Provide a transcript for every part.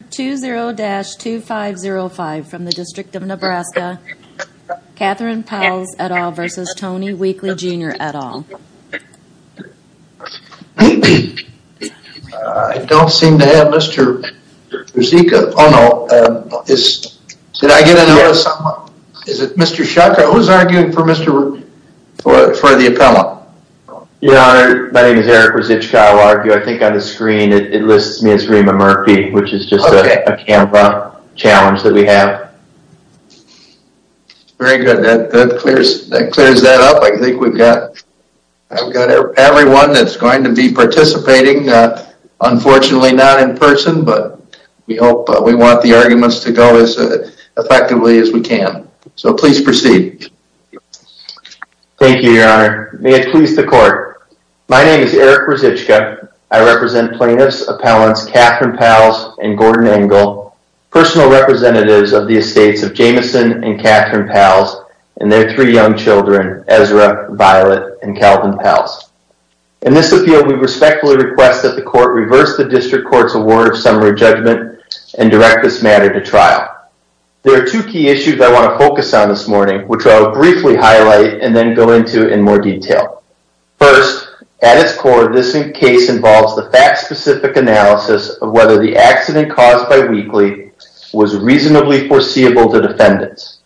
I don't seem to have Mr. Rzicka. Oh no. Did I get a notice? Is it Mr. Shaka? Who's arguing for Mr. Rzicka? For the appellate? Yeah, my name is Eric Rzicka. I think on the screen it lists me as Rima Murphy, which is just a CAMPA challenge that we have. Very good. That clears that up. I think we've got everyone that's going to be participating. Unfortunately, not in person, but we hope we want the arguments to go as effectively as we can. So please proceed. Thank you, Your Honor. May it please the court. My name is Eric Rzicka. I represent appellants Catherine Pals and Gordon Engel, personal representatives of the estates of Jameson and Catherine Pals and their three young children, Ezra, Violet, and Calvin Pals. In this appeal, we respectfully request that the court reverse the district court's award of summary judgment and direct this matter to trial. There are two key issues I want to focus on this morning, which I will briefly highlight and then go into in more detail. First, at its core, this case involves the fact-specific analysis of whether the accident caused by Wheatley was reasonably foreseeable to defendants.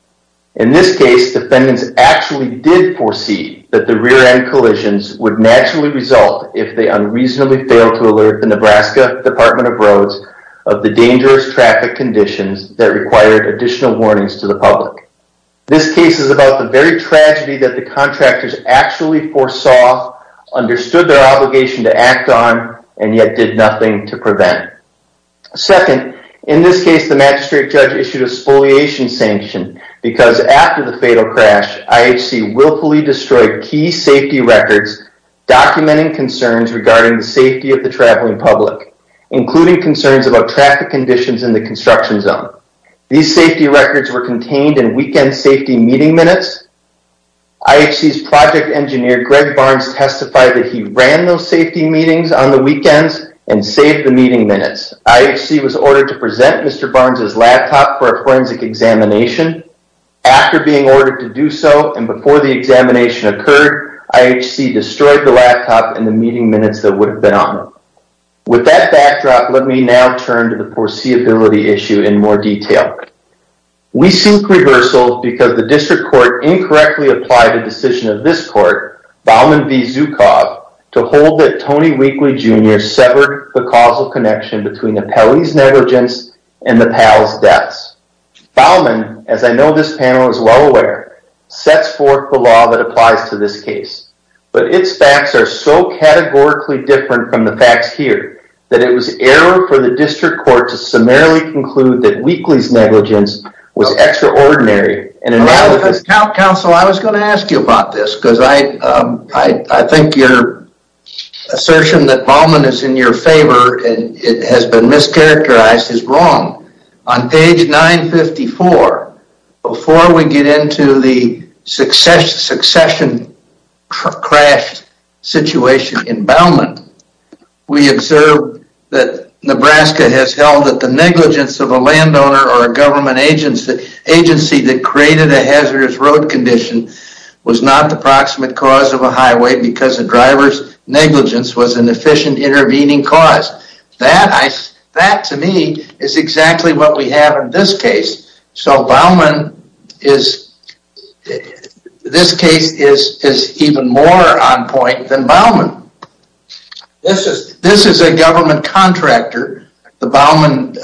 In this case, defendants actually did foresee that the rear-end collisions would naturally result if they unreasonably failed to alert the Nebraska Department of Roads of the dangerous traffic conditions that required additional warnings to the public. This case is about the very tragedy that the contractors actually foresaw, understood their obligation to act on, and yet did nothing to prevent. Second, in this case, the magistrate judge issued a spoliation sanction because after the fatal crash, IHC willfully destroyed key safety records documenting concerns regarding the safety of the traveling public, including concerns about traffic conditions in the construction zone. These safety records were ran those safety meetings on the weekends and saved the meeting minutes. IHC was ordered to present Mr. Barnes' laptop for a forensic examination. After being ordered to do so and before the examination occurred, IHC destroyed the laptop and the meeting minutes that would have been on it. With that backdrop, let me now turn to the foreseeability issue in more detail. We seek reversal because the district court incorrectly applied a decision of this court, Bauman v. Zukov, to hold that Tony Weakley Jr. severed the causal connection between the peltie's negligence and the PAL's deaths. Bauman, as I know this panel is well aware, sets forth the law that applies to this case, but its facts are so categorically different from the facts here that it was error for the district court to summarily conclude that Weakley's was wrong. On page 954, before we get into the succession crash situation in Bauman, we observe that Nebraska has held that the negligence of a landowner or a government agency that created a hazardous road condition was not the proximate cause of a highway because the driver's negligence was an efficient intervening cause. That, to me, is exactly what we have in this case. So Bauman is, this case is even more on point than Bauman. This is a government contractor. The Bauman,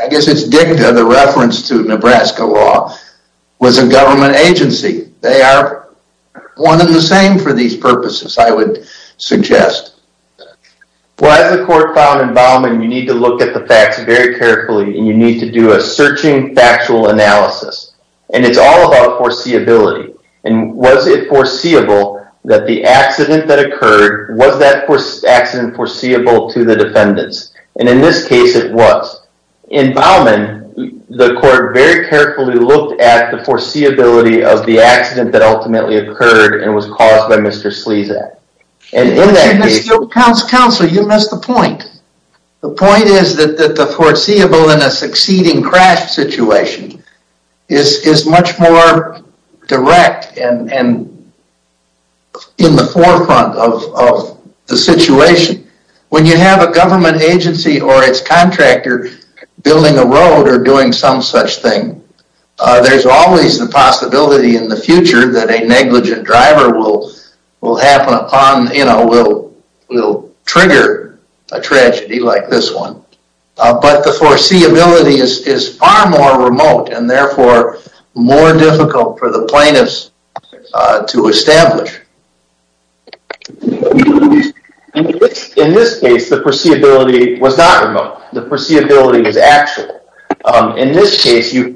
I guess it's DICTA, the reference to Nebraska law, was a government agency. They are one and the same for these purposes, I would suggest. Well, as the court found in Bauman, you need to look at the facts very carefully and you need to do a searching factual analysis. And it's all about foreseeability. And was it foreseeable that the accident that occurred, was that accident foreseeable to the defendants? And in this case, it was. In Bauman, the court very carefully looked at the foreseeability of the accident that ultimately occurred and was caused by Mr. Sleezak. And in that case- Counselor, you missed the point. The point is that the foreseeable in a succeeding crash situation is much more direct and in the forefront of the situation. When you have a government agency or its contractor building a road or doing some such thing, there's always the possibility in the future that a negligent driver will happen upon, will trigger a tragedy like this one. But the foreseeability is far more remote and therefore more difficult for the plaintiffs to establish. In this case, the foreseeability was not remote. The foreseeability is actual. In this case, you-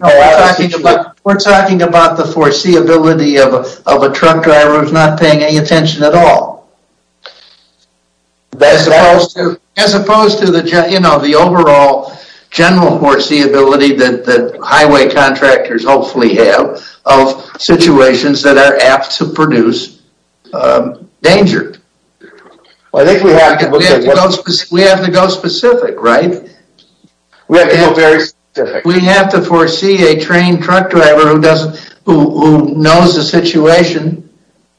We're talking about the foreseeability of a truck driver who's not paying any attention at all. As opposed to the, you know, the overall general foreseeability that highway contractors hopefully have of situations that are apt to produce danger. I think we have to- We have to go specific, right? We have to go very specific.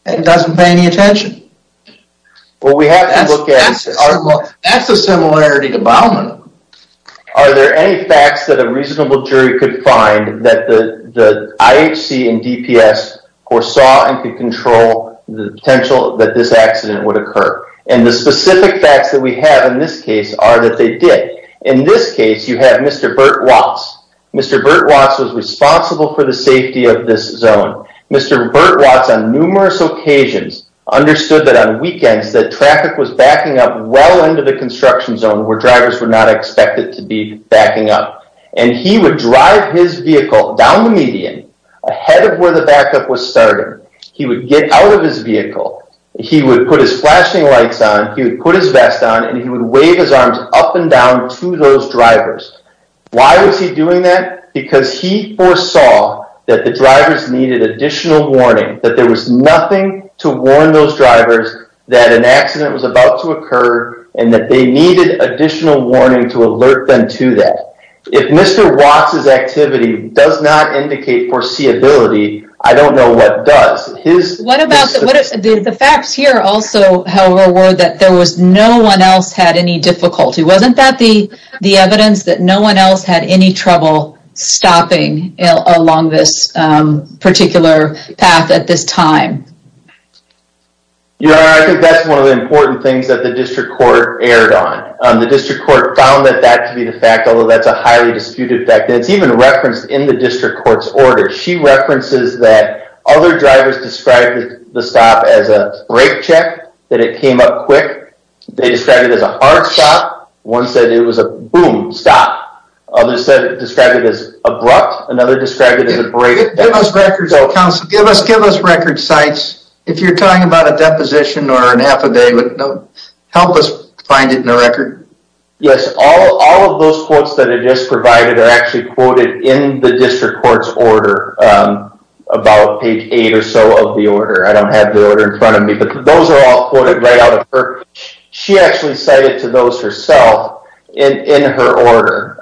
And doesn't pay any attention. Well, we have to look at- That's a similarity to Baumann. Are there any facts that a reasonable jury could find that the IHC and DPS saw and could control the potential that this accident would occur? And the specific facts that we have in this case are that they did. In this case, you have Mr. Bert Watts. Mr. Bert Watts was responsible for the safety of this zone. Mr. Bert Watts, on numerous occasions, understood that on weekends that traffic was backing up well into the construction zone where drivers were not expected to be backing up. And he would drive his vehicle down the median ahead of where the backup was starting. He would get out of his vehicle. He would put his flashing lights on. He would put his vest on. And he would wave his arms up and down to those drivers. Why was he responsible for that? He foresaw that the drivers needed additional warning. That there was nothing to warn those drivers that an accident was about to occur and that they needed additional warning to alert them to that. If Mr. Watts's activity does not indicate foreseeability, I don't know what does. The facts here also, however, were that there was no one else had any difficulty. Wasn't that the the evidence that no one else had any trouble stopping along this particular path at this time? Yeah, I think that's one of the important things that the district court erred on. The district court found that that to be the fact, although that's a highly disputed fact. It's even referenced in the district court's order. She references that other drivers described the stop as a brake check, that it came up quick. They described it as a hard stop. One said it was a boom, stop. Others said it described it as abrupt. Another described it as a brake. Give us records, counsel. Give us give us record sites. If you're talking about a deposition or an affidavit, help us find it in the record. Yes, all of those quotes that are just provided are quoted in the district court's order, about page eight or so of the order. I don't have the order in front of me, but those are all quoted right out of her. She actually said it to those herself in her order.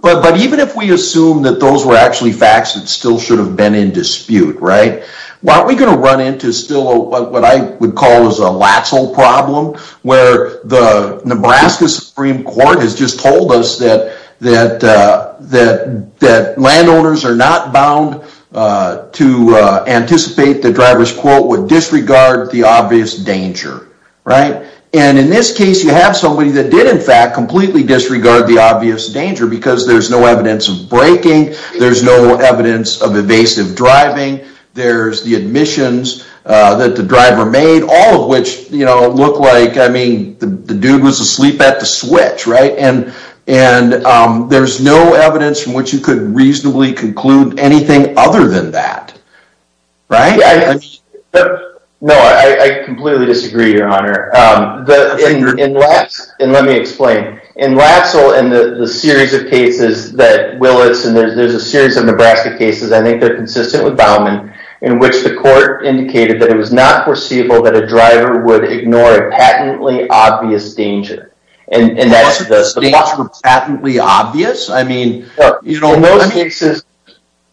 But even if we assume that those were actually facts that still should have been in dispute, right? Aren't we going to run into still what I would call is a problem where the Nebraska Supreme Court has just told us that landowners are not bound to anticipate the driver's quote would disregard the obvious danger, right? And in this case, you have somebody that did in fact completely disregard the obvious danger because there's no evidence of braking. There's no evidence of evasive driving. There's the admissions that the driver made, all of which, you know, look like, I mean, the dude was asleep at the switch, right? And there's no evidence from which you could reasonably conclude anything other than that, right? No, I completely disagree, your honor. Let me explain. In Latzel and the series of cases that Willits and there's a series of Nebraska cases, I think they're consistent with that. It was not foreseeable that a driver would ignore a patently obvious danger. And that's the patently obvious. I mean, you know,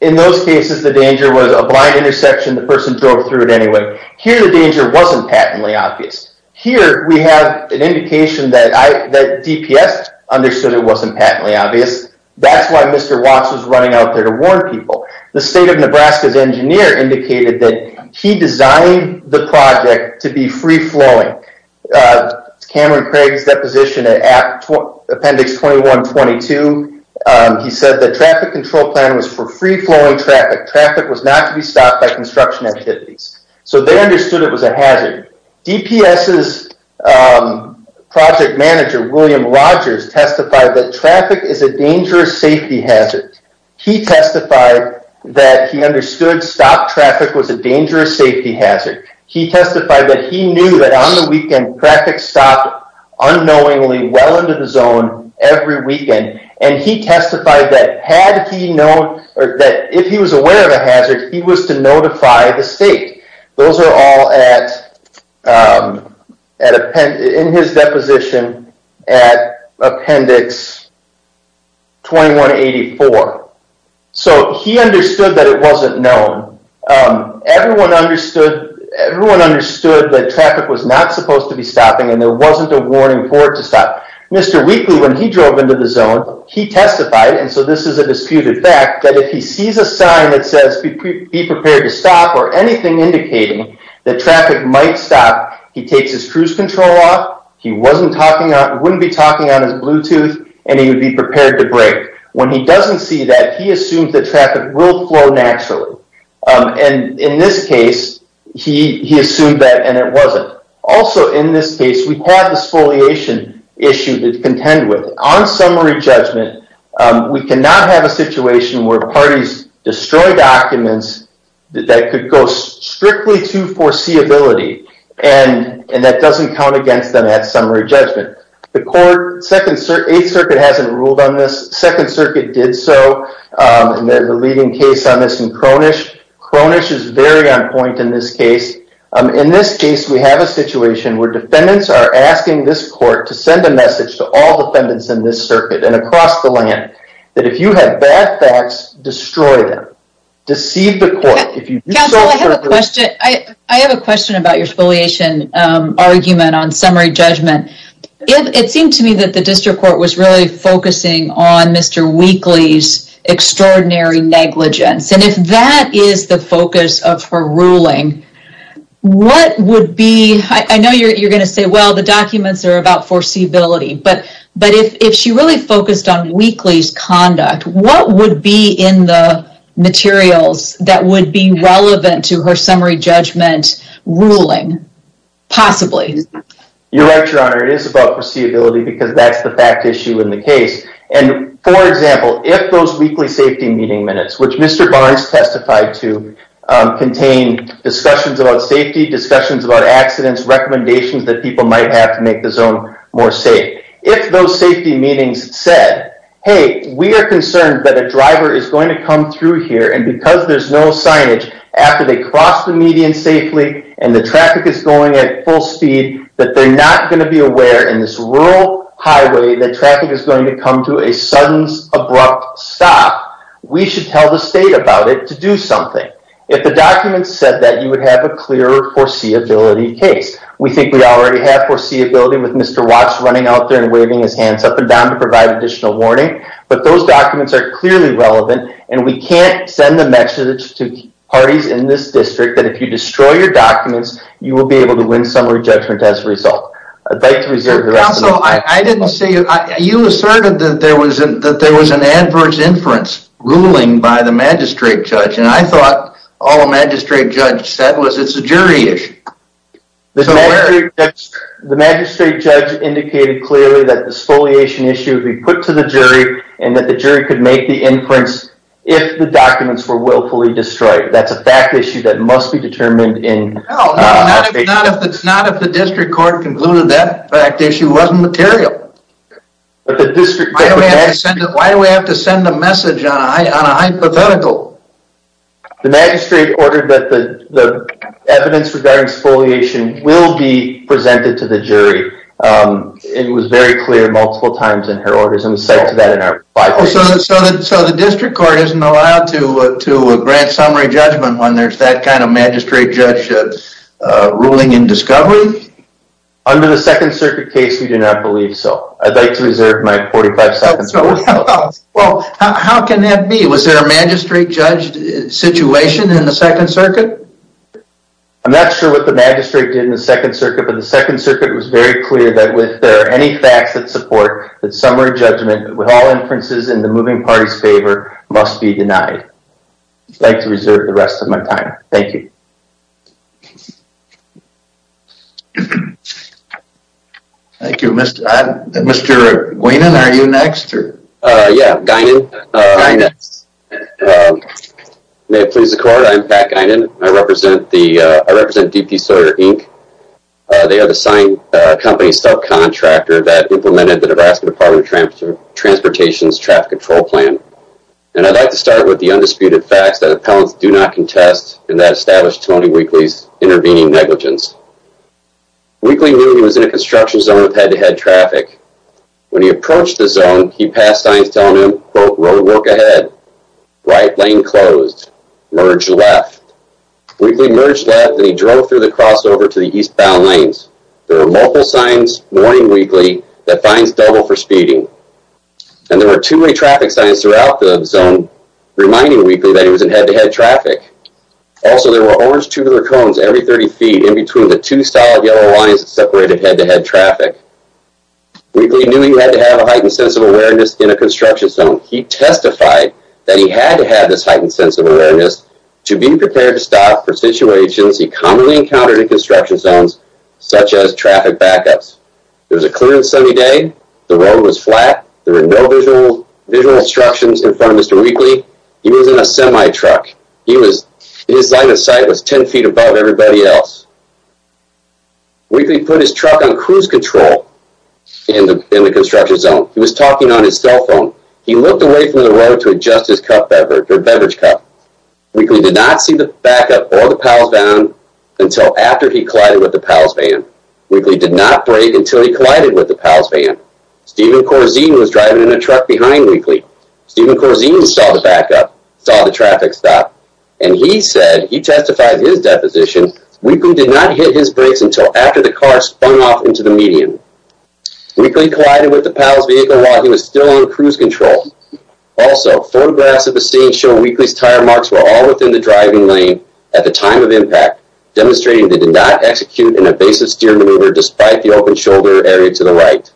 in those cases, the danger was a blind intersection. The person drove through it anyway. Here, the danger wasn't patently obvious. Here, we have an indication that DPS understood it wasn't patently obvious. That's why Mr. Watts was running out there to warn people. The state of Nebraska's engineer indicated that he designed the project to be free-flowing. Cameron Craig's deposition at appendix 21-22, he said the traffic control plan was for free-flowing traffic. Traffic was not to be stopped by construction activities. So they understood it was a hazard. DPS's project manager, William Rogers, testified that traffic is a dangerous safety hazard. He testified that he understood stop traffic was a dangerous safety hazard. He testified that he knew that on the weekend, traffic stopped unknowingly well into the zone every weekend. And he testified that had he known or that if he was aware of a hazard, he was to notify the state. Those are all in his deposition at appendix 21-84. So he understood that it wasn't known. Everyone understood that traffic was not supposed to be stopping and there wasn't a warning for it to stop. Mr. Wheatley, when he drove into the zone, he testified, and so this is a disputed fact, that if he sees a sign that says be prepared to stop or anything indicating that traffic might stop, he takes his cruise control off, he wouldn't be talking on his Bluetooth, and he would be prepared to brake. When he doesn't see that, he assumes that traffic will flow naturally. And in this case, he assumed that and it wasn't. Also in this case, we had a non-dispoliation issue to contend with. On summary judgment, we cannot have a situation where parties destroy documents that could go strictly to foreseeability, and that doesn't count against them at summary judgment. The court, 8th Circuit hasn't ruled on this. 2nd Circuit did so, and there's a leading case on this in Cronish. Cronish is very on point in this case. In this case, we have a situation where defendants are asking this court to send a message to all defendants in this circuit and across the land that if you have bad facts, destroy them. Deceive the court. Counsel, I have a question. I have a question about your spoliation argument on summary judgment. It seemed to me that the district court was really focusing on Mr. Wheatley's extraordinary negligence, and if that is the focus of her ruling, what would be, I know you're going to say, well, the documents are about foreseeability, but if she really focused on Wheatley's conduct, what would be in the materials that would be relevant to her summary judgment ruling, possibly? You're right, Your Honor. It is about foreseeability because that's the fact issue in the case. For example, if those weekly safety meeting minutes, which Mr. Barnes testified to, contain discussions about safety, discussions about accidents, recommendations that people might have to make the zone more safe. If those safety meetings said, hey, we are concerned that a driver is going to come through here, and because there's no signage, after they cross the median safely and the traffic is going at full speed, that they're not going to be aware in this rural highway that traffic is going to come to a sudden abrupt stop, we should tell the state about it to do something. If the documents said that, you would have a clear foreseeability case. We think we already have foreseeability with Mr. Watts running out there and waving his hands up and down to provide additional warning, but those documents are clearly relevant, and we can't send the message to parties in this district that if you destroy your documents, you will be able to win summary judgment as a result. Counsel, you asserted that there was an adverse inference ruling by the magistrate judge, and I thought all the magistrate judge said was it's a jury issue. The magistrate judge indicated clearly that the exfoliation issue would be put to the jury and that the jury could make the inference if the documents were willfully destroyed. That's a fact issue that must be determined in... No, not if the district court concluded that fact issue wasn't material. Why do we have to send a message on a hypothetical? The magistrate ordered that the evidence regarding exfoliation will be presented to the jury. It was very clear multiple times in her orders, and we said to that in our... So the district court isn't allowed to grant summary judgment when there's that kind of magistrate judge ruling in discovery? Under the Second Circuit case, we do not believe so. I'd like to reserve my 45 seconds. Well, how can that be? Was there a magistrate judge situation in the Second Circuit? I'm not sure what the magistrate did in the Second Circuit, but the Second Circuit was very clear that with there are any facts that support that summary judgment with all inferences in the moving party's mind. I'd like to reserve the rest of my time. Thank you. Thank you. Mr. Guinan, are you next? Yeah, Guinan. May it please the court, I'm Pat Guinan. I represent the... I represent D.P. Sawyer, Inc. They are the signed company self-contractor that implemented the Nebraska Department of Transportation's traffic control plan, and I'd like to start with the undisputed facts that appellants do not contest in that established Tony Weakley's intervening negligence. Weakley knew he was in a construction zone with head-to-head traffic. When he approached the zone, he passed signs telling him, quote, roadwork ahead, right lane closed, merge left. Weakley merged left, and he drove through the crossover to the eastbound lanes. There were multiple signs warning Weakley that fines double for speeding, and there were too many traffic signs throughout the zone reminding Weakley that he was in head-to-head traffic. Also, there were orange tubular cones every 30 feet in between the two solid yellow lines that separated head-to-head traffic. Weakley knew he had to have a heightened sense of awareness in a construction zone. He testified that he had to have this heightened sense of awareness to be prepared to stop for situations he commonly encountered in construction zones, such as visual obstructions in front of Mr. Weakley. He was in a semi-truck. His line of sight was 10 feet above everybody else. Weakley put his truck on cruise control in the construction zone. He was talking on his cell phone. He looked away from the road to adjust his beverage cup. Weakley did not see the backup or the PALS van until after he collided with the PALS van. Weakley did not see the backup. Stephen Corzine was driving in a truck behind Weakley. Stephen Corzine saw the backup, saw the traffic stop, and he said, he testified his deposition, Weakley did not hit his brakes until after the car spun off into the median. Weakley collided with the PALS vehicle while he was still in cruise control. Also, photographs of the scene show Weakley's tire marks were all within the driving lane at the time of impact, demonstrating they did not execute an evasive steer maneuver despite the shoulder area to the right.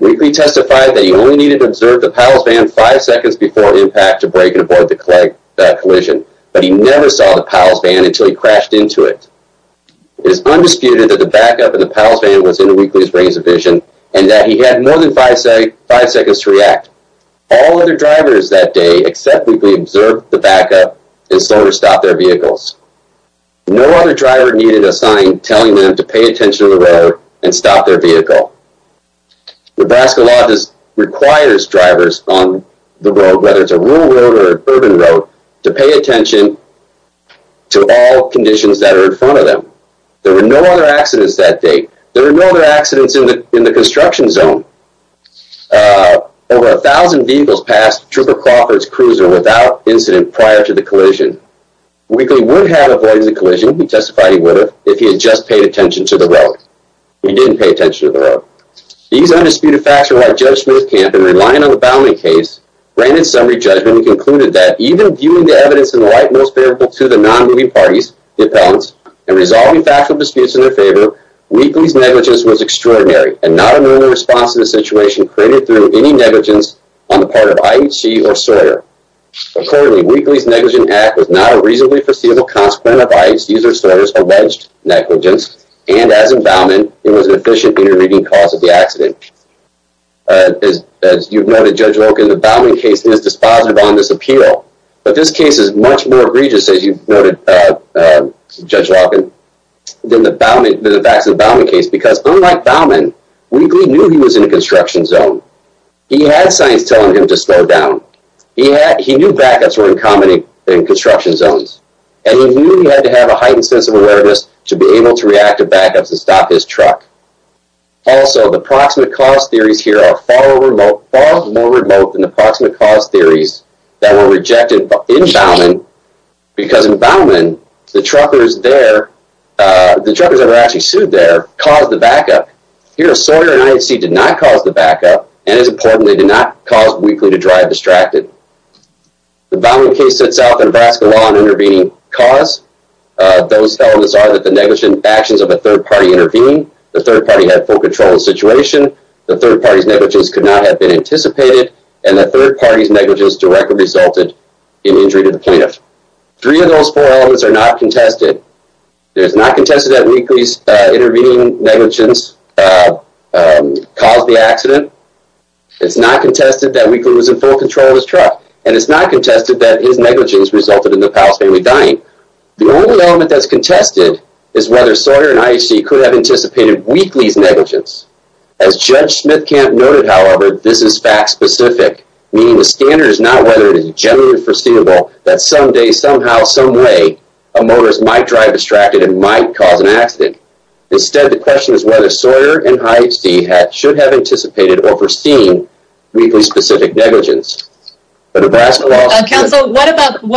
Weakley testified that he only needed to observe the PALS van five seconds before impact to break and avoid the collision, but he never saw the PALS van until he crashed into it. It is undisputed that the backup and the PALS van was in Weakley's range of vision and that he had more than five seconds to react. All other drivers that day except Weakley observed the backup and slowed to stop their vehicles. No other driver needed a sign telling them to pay attention to the road and stop their vehicle. Nebraska law requires drivers on the road, whether it's a rural road or an urban road, to pay attention to all conditions that are in front of them. There were no other accidents that day. There were no other accidents in the construction zone. Over a thousand vehicles passed Trooper Crawford's cruiser without incident prior to the collision. Weakley would have avoided the collision, he testified he would have, if he had just paid attention to the road. He didn't pay attention to the road. These undisputed facts are why Judge Smith-Camp and relying on the Bowman case granted summary judgment and concluded that even viewing the evidence in the light most favorable to the non-moving parties, the appellants, and resolving factual disputes in their favor, Weakley's negligence was extraordinary and not a normal response to the situation created through any negligence on the part of IHC or IHC. The negligent act was not a reasonably foreseeable consequence of IHC's user service alleged negligence and as in Bowman, it was an efficient intervening cause of the accident. As you've noted, Judge Loken, the Bowman case is dispositive on this appeal, but this case is much more egregious as you've noted, Judge Loken, than the facts of the Bowman case because unlike Bowman, Weakley knew he was in a construction zone. He had signs telling him to slow down. He knew backups were uncommon in construction zones and he knew he had to have a heightened sense of awareness to be able to react to backups and stop his truck. Also, the proximate cause theories here are far more remote than the proximate cause theories that were rejected in Bowman because in Bowman, the truckers there, the truckers that were actually sued there, caused the backup. Here, Sawyer and IHC did not cause the backup and as important, they did not cause Weakley to drive distracted. The Bowman case sets out the Nebraska law on intervening cause. Those elements are that the negligent actions of a third party intervening, the third party had full control of the situation, the third party's negligence could not have been anticipated, and the third party's negligence directly resulted in injury to the plaintiff. Three of those four elements are not contested. It is not contested that Weakley's intervening negligence caused the accident. It's not contested that Weakley was in full control of his truck and it's not contested that his negligence resulted in the Powell family dying. The only element that's contested is whether Sawyer and IHC could have anticipated Weakley's negligence. As Judge Smithkamp noted, however, this is fact-specific, meaning the standard is not whether it is generally foreseeable that someday, somehow, someway, a motorist might drive distracted and might cause an accident. Instead, the question is whether Sawyer and IHC should have anticipated or foreseen Weakley's specific negligence. The Nebraska law... Counsel, what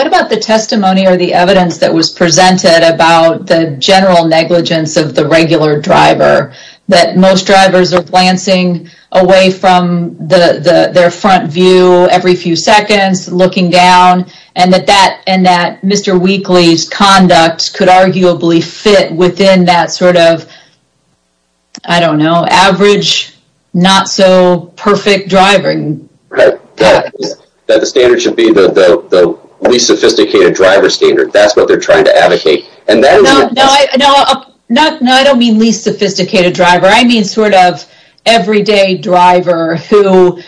about the testimony or the evidence that was presented about the general negligence of the regular driver, that most drivers are glancing away from their front view every few seconds, looking down, and that Mr. Weakley's conduct could arguably fit within that sort of, I don't know, average, not-so-perfect driving. That the standard should be the least sophisticated driver standard. That's what they're trying to advocate. No, I don't mean least sophisticated driver. I mean sort of everyday driver who,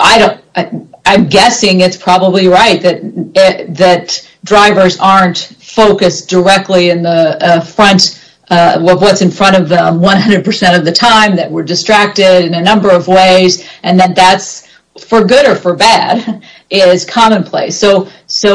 I don't, I'm guessing it's probably right that drivers aren't focused directly in the front of what's in front of them 100% of the time, that we're distracted in a number of ways, and that that's for good or for bad is commonplace. So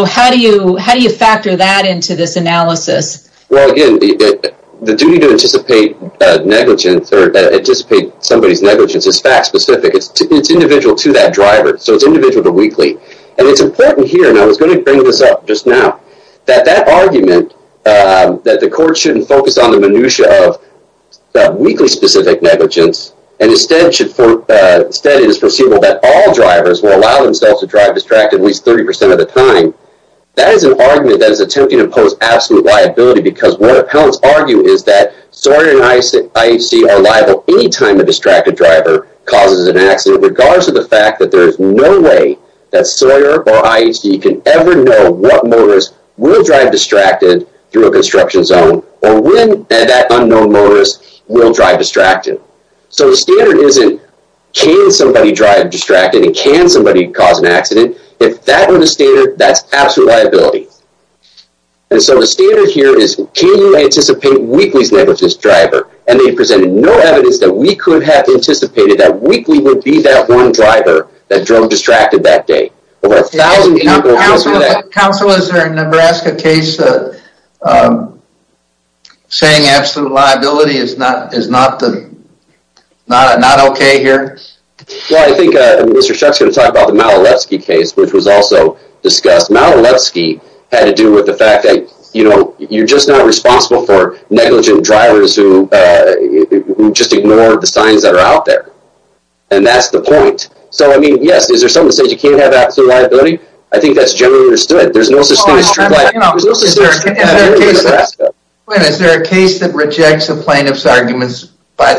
how do you factor that into this analysis? Well again, the duty to anticipate negligence or anticipate somebody's negligence is fact-specific. It's individual to that driver, so it's individual to Weakley. And it's important here, and I was going to bring this up just now, that that argument that the court shouldn't focus on the minutiae of Weakley's specific negligence, and instead should, instead it is foreseeable that all drivers will allow themselves to drive distracted at least 30% of the time, that is an argument that is attempting to impose absolute liability because what appellants argue is that Sawyer and IHC are liable any time the distracted driver causes an accident, regardless of the fact that there is no way that Sawyer or IHC can ever know what motorist will drive distracted through a construction zone, or when that unknown motorist will drive distracted. So the standard isn't, can somebody drive distracted and can somebody cause an accident? If that were the standard, that's absolute liability. And so the standard here is, can you anticipate Weakley's negligence driver? And they presented no evidence that we could have anticipated that Weakley would be that one driver that drove distracted that day. Counsel, is there a Nebraska case saying absolute liability is not okay here? Well, I think Mr. Shuck's going to talk about the Malalevsky case, which was also discussed. Malalevsky had to do with the fact that, you know, you're just not responsible for negligent drivers who just ignore the signs that are out there. And that's the point. So I mean, yes, is there something to say you can't have absolute liability? I think that's generally understood. There's no such thing as true liability. Is there a case that rejects a plaintiff's arguments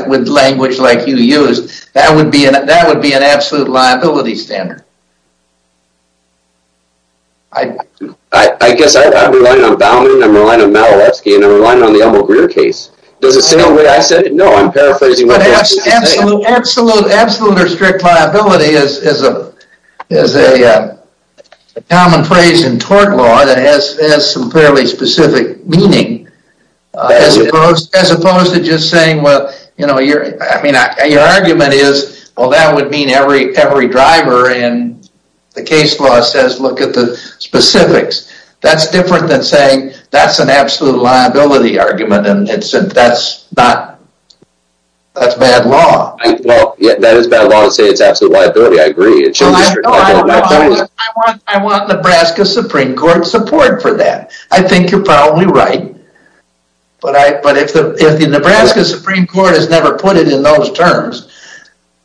with language like you used, that would be an absolute liability standard? I guess I'm relying on Baumann, I'm relying on Malalevsky, and I'm relying on the Elmo Greer case. Does it sound the way I said it? No, I'm paraphrasing. But absolute or strict liability is a common phrase in tort law that has some fairly specific meaning, as opposed to just saying, well, you know, I mean, your argument is, well, that would every driver, and the case law says, look at the specifics. That's different than saying, that's an absolute liability argument, and that's bad law. That is bad law to say it's absolute liability. I agree. I want Nebraska Supreme Court support for that. I think you're probably right. But if the Nebraska Supreme Court has never put it in those terms,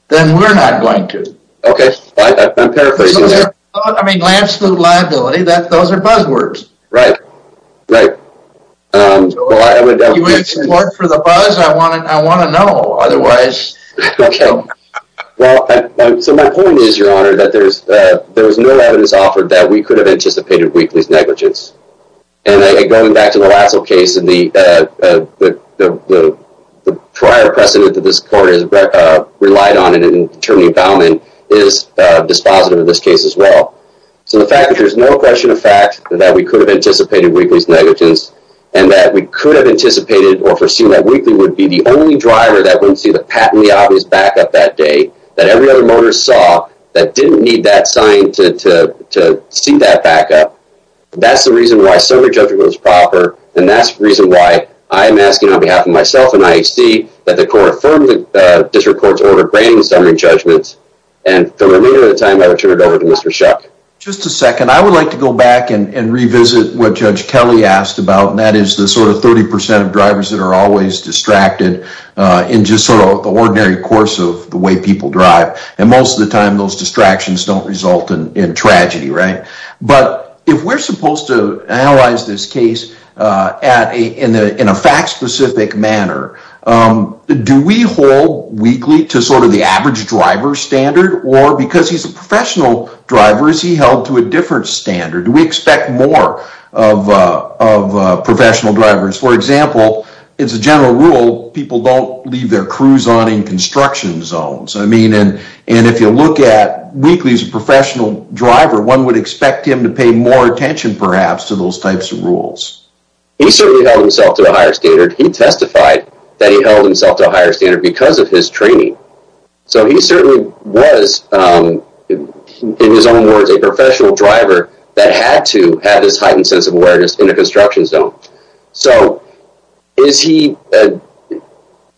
then we're not going to. Okay, I'm paraphrasing. I mean, absolute liability, those are buzzwords. Right, right. You want support for the buzz, I want to know, otherwise... So my point is, Your Honor, that there's no evidence offered that we could have anticipated Wheatley's negligence. And going back to the Lasso case, and the prior precedent that this court has relied on in determining Bauman is dispositive in this case as well. So the fact that there's no question of fact that we could have anticipated Wheatley's negligence, and that we could have anticipated or foreseen that Wheatley would be the only driver that wouldn't see the patently obvious backup that day, that every other motorist saw that didn't need that backup. That's the reason why summary judgment was proper. And that's the reason why I'm asking on behalf of myself and IHC that the court affirm the district court's order granting summary judgments. And for the remainder of the time, I will turn it over to Mr. Shuck. Just a second, I would like to go back and revisit what Judge Kelly asked about, and that is the sort of 30% of drivers that are always distracted in just sort of the ordinary course of the way people drive. And most of the time those distractions don't result in tragedy, right? But if we're supposed to analyze this case in a fact-specific manner, do we hold Wheatley to sort of the average driver standard? Or because he's a professional driver, is he held to a different standard? Do we expect more of professional drivers? For example, it's a general rule people don't leave their crews on in construction zones. I mean, and if you look at Wheatley as a professional driver, one would expect him to pay more attention perhaps to those types of rules. He certainly held himself to a higher standard. He testified that he held himself to a higher standard because of his training. So he certainly was, in his own words, a professional driver that had to have this heightened sense of awareness in the construction zone. So is he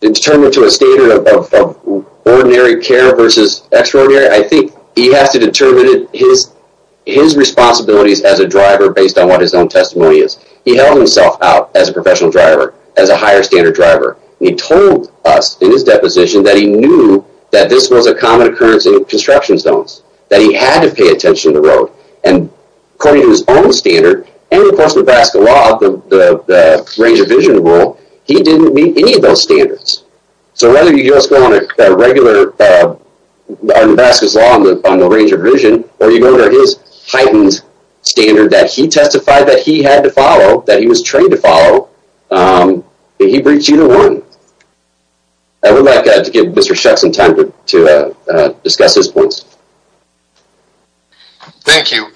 determined to a standard of ordinary care versus extraordinary? I think he has to determine his responsibilities as a driver based on what his own testimony is. He held himself out as a professional driver, as a higher standard driver. He told us in his deposition that he knew that this was a common occurrence in construction zones, that he had to pay attention to the road, and according to his own standard, and of course, Nebraska law, the range of vision rule, he didn't meet any of those standards. So whether you just go on a regular Nebraska's law on the range of vision, or you go to his heightened standard that he testified that he had to follow, that he was trained to follow, he brings you to one. I would like to give Mr. Weakley a chance to discuss his points. Thank you.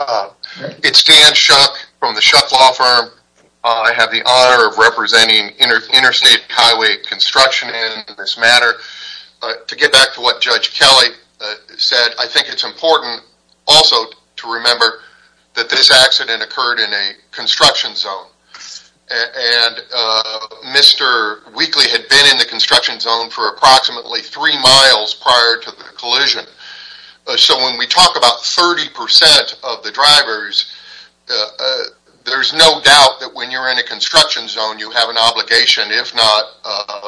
It's Dan Shuck from the Shuck Law Firm. I have the honor of representing Interstate Highway Construction in this matter. To get back to what Judge Kelly said, I think it's important also to remember that this accident occurred in a construction zone, and Mr. Weakley had been in the construction zone for approximately three miles prior to the collision. So when we talk about 30% of the drivers, there's no doubt that when you're in a construction zone, you have an obligation, if not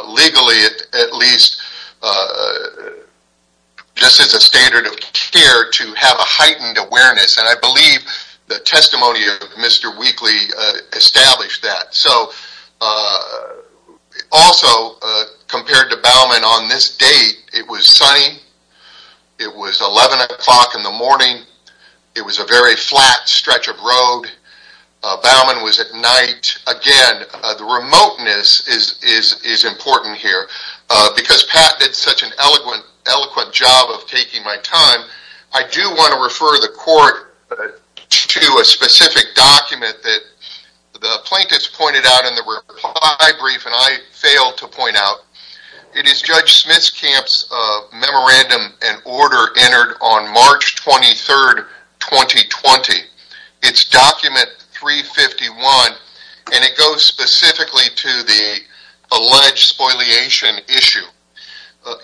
legally at least, just as a standard of care, to have a heightened awareness, and I believe the testimony of Mr. Weakley established that. Also, compared to Baumann on this date, it was sunny. It was 11 o'clock in the morning. It was a very flat stretch of road. Baumann was at night. Again, the remoteness is important here. Because Pat did such an eloquent job of pointing to a specific document that the plaintiffs pointed out in the reply brief, and I failed to point out, it is Judge Smitskamp's memorandum and order entered on March 23, 2020. It's document 351, and it goes specifically to the alleged spoliation issue.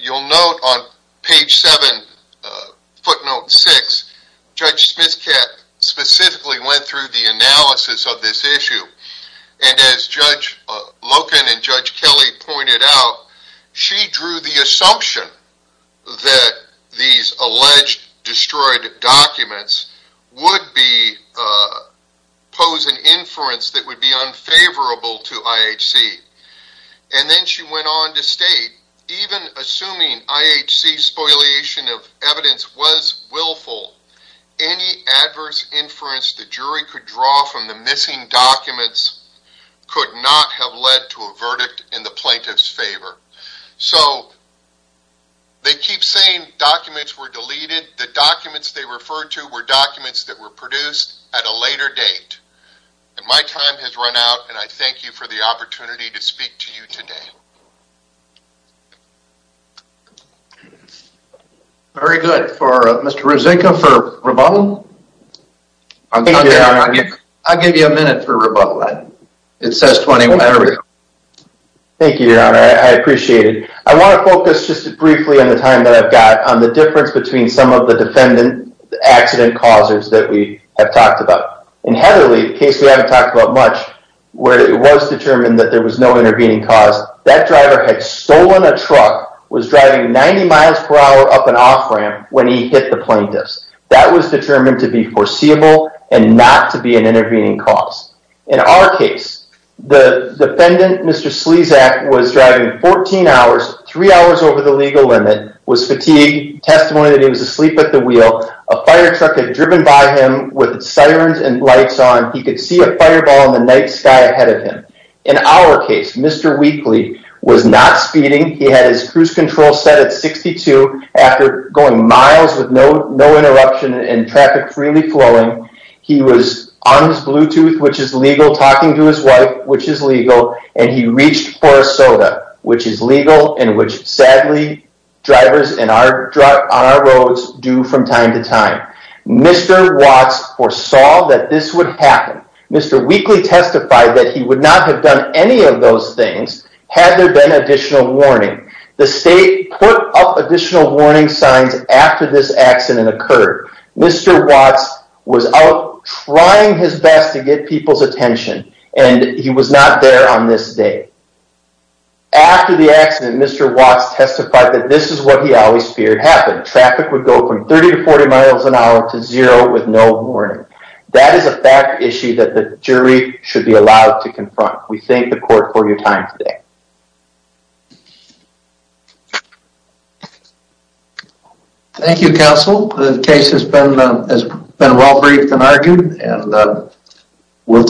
You'll note on page 7, footnote 6, Judge Smitskamp specifically went through the analysis of this issue, and as Judge Loken and Judge Kelly pointed out, she drew the assumption that these alleged destroyed documents would pose an inference that would be unfavorable to IHC. Then she went on to state, even assuming IHC's spoliation of evidence was willful, any adverse inference the jury could draw from the missing documents could not have led to a verdict in the plaintiff's favor. They keep saying documents were deleted. The documents they referred to were documents that were produced at a later date. My time has run out, and I thank you for the opportunity to speak to you today. Very good. Mr. Ruzynka for rebuttal? I'll give you a minute for rebuttal. Thank you, your honor. I appreciate it. I want to focus just briefly on the time that I've got on the difference between some of the defendant accident causers that we have talked about. In Heatherly, the case we haven't talked about much, where it was determined that there was no intervening cause, that driver had stolen a truck, was driving 90 miles per hour up an off-ramp when he hit the plaintiffs. That was determined to be foreseeable and not to be an intervening cause. In our case, the defendant, Mr. Slezak, was driving 14 hours, three hours over the legal limit, was fatigued, testimony that he was asleep at the wheel, a fire truck had driven by him with Mr. Weekly was not speeding. He had his cruise control set at 62 after going miles with no interruption and traffic freely flowing. He was on his Bluetooth, which is legal, talking to his wife, which is legal, and he reached for a soda, which is legal and which sadly drivers on our roads do from time to time. Mr. Watts foresaw that this would happen. Mr. Weekly testified that he would not have done any of those things had there been additional warning. The state put up additional warning signs after this accident occurred. Mr. Watts was out trying his best to get people's attention and he was not there on this day. After the accident, Mr. Watts testified that this is what he always feared happened. Traffic would go from 30 to 40 miles an hour to zero with no warning. That is a fact issue that the jury should be allowed to confront. We thank the court for your time today. Thank you, counsel. The case has been well briefed and argued and we'll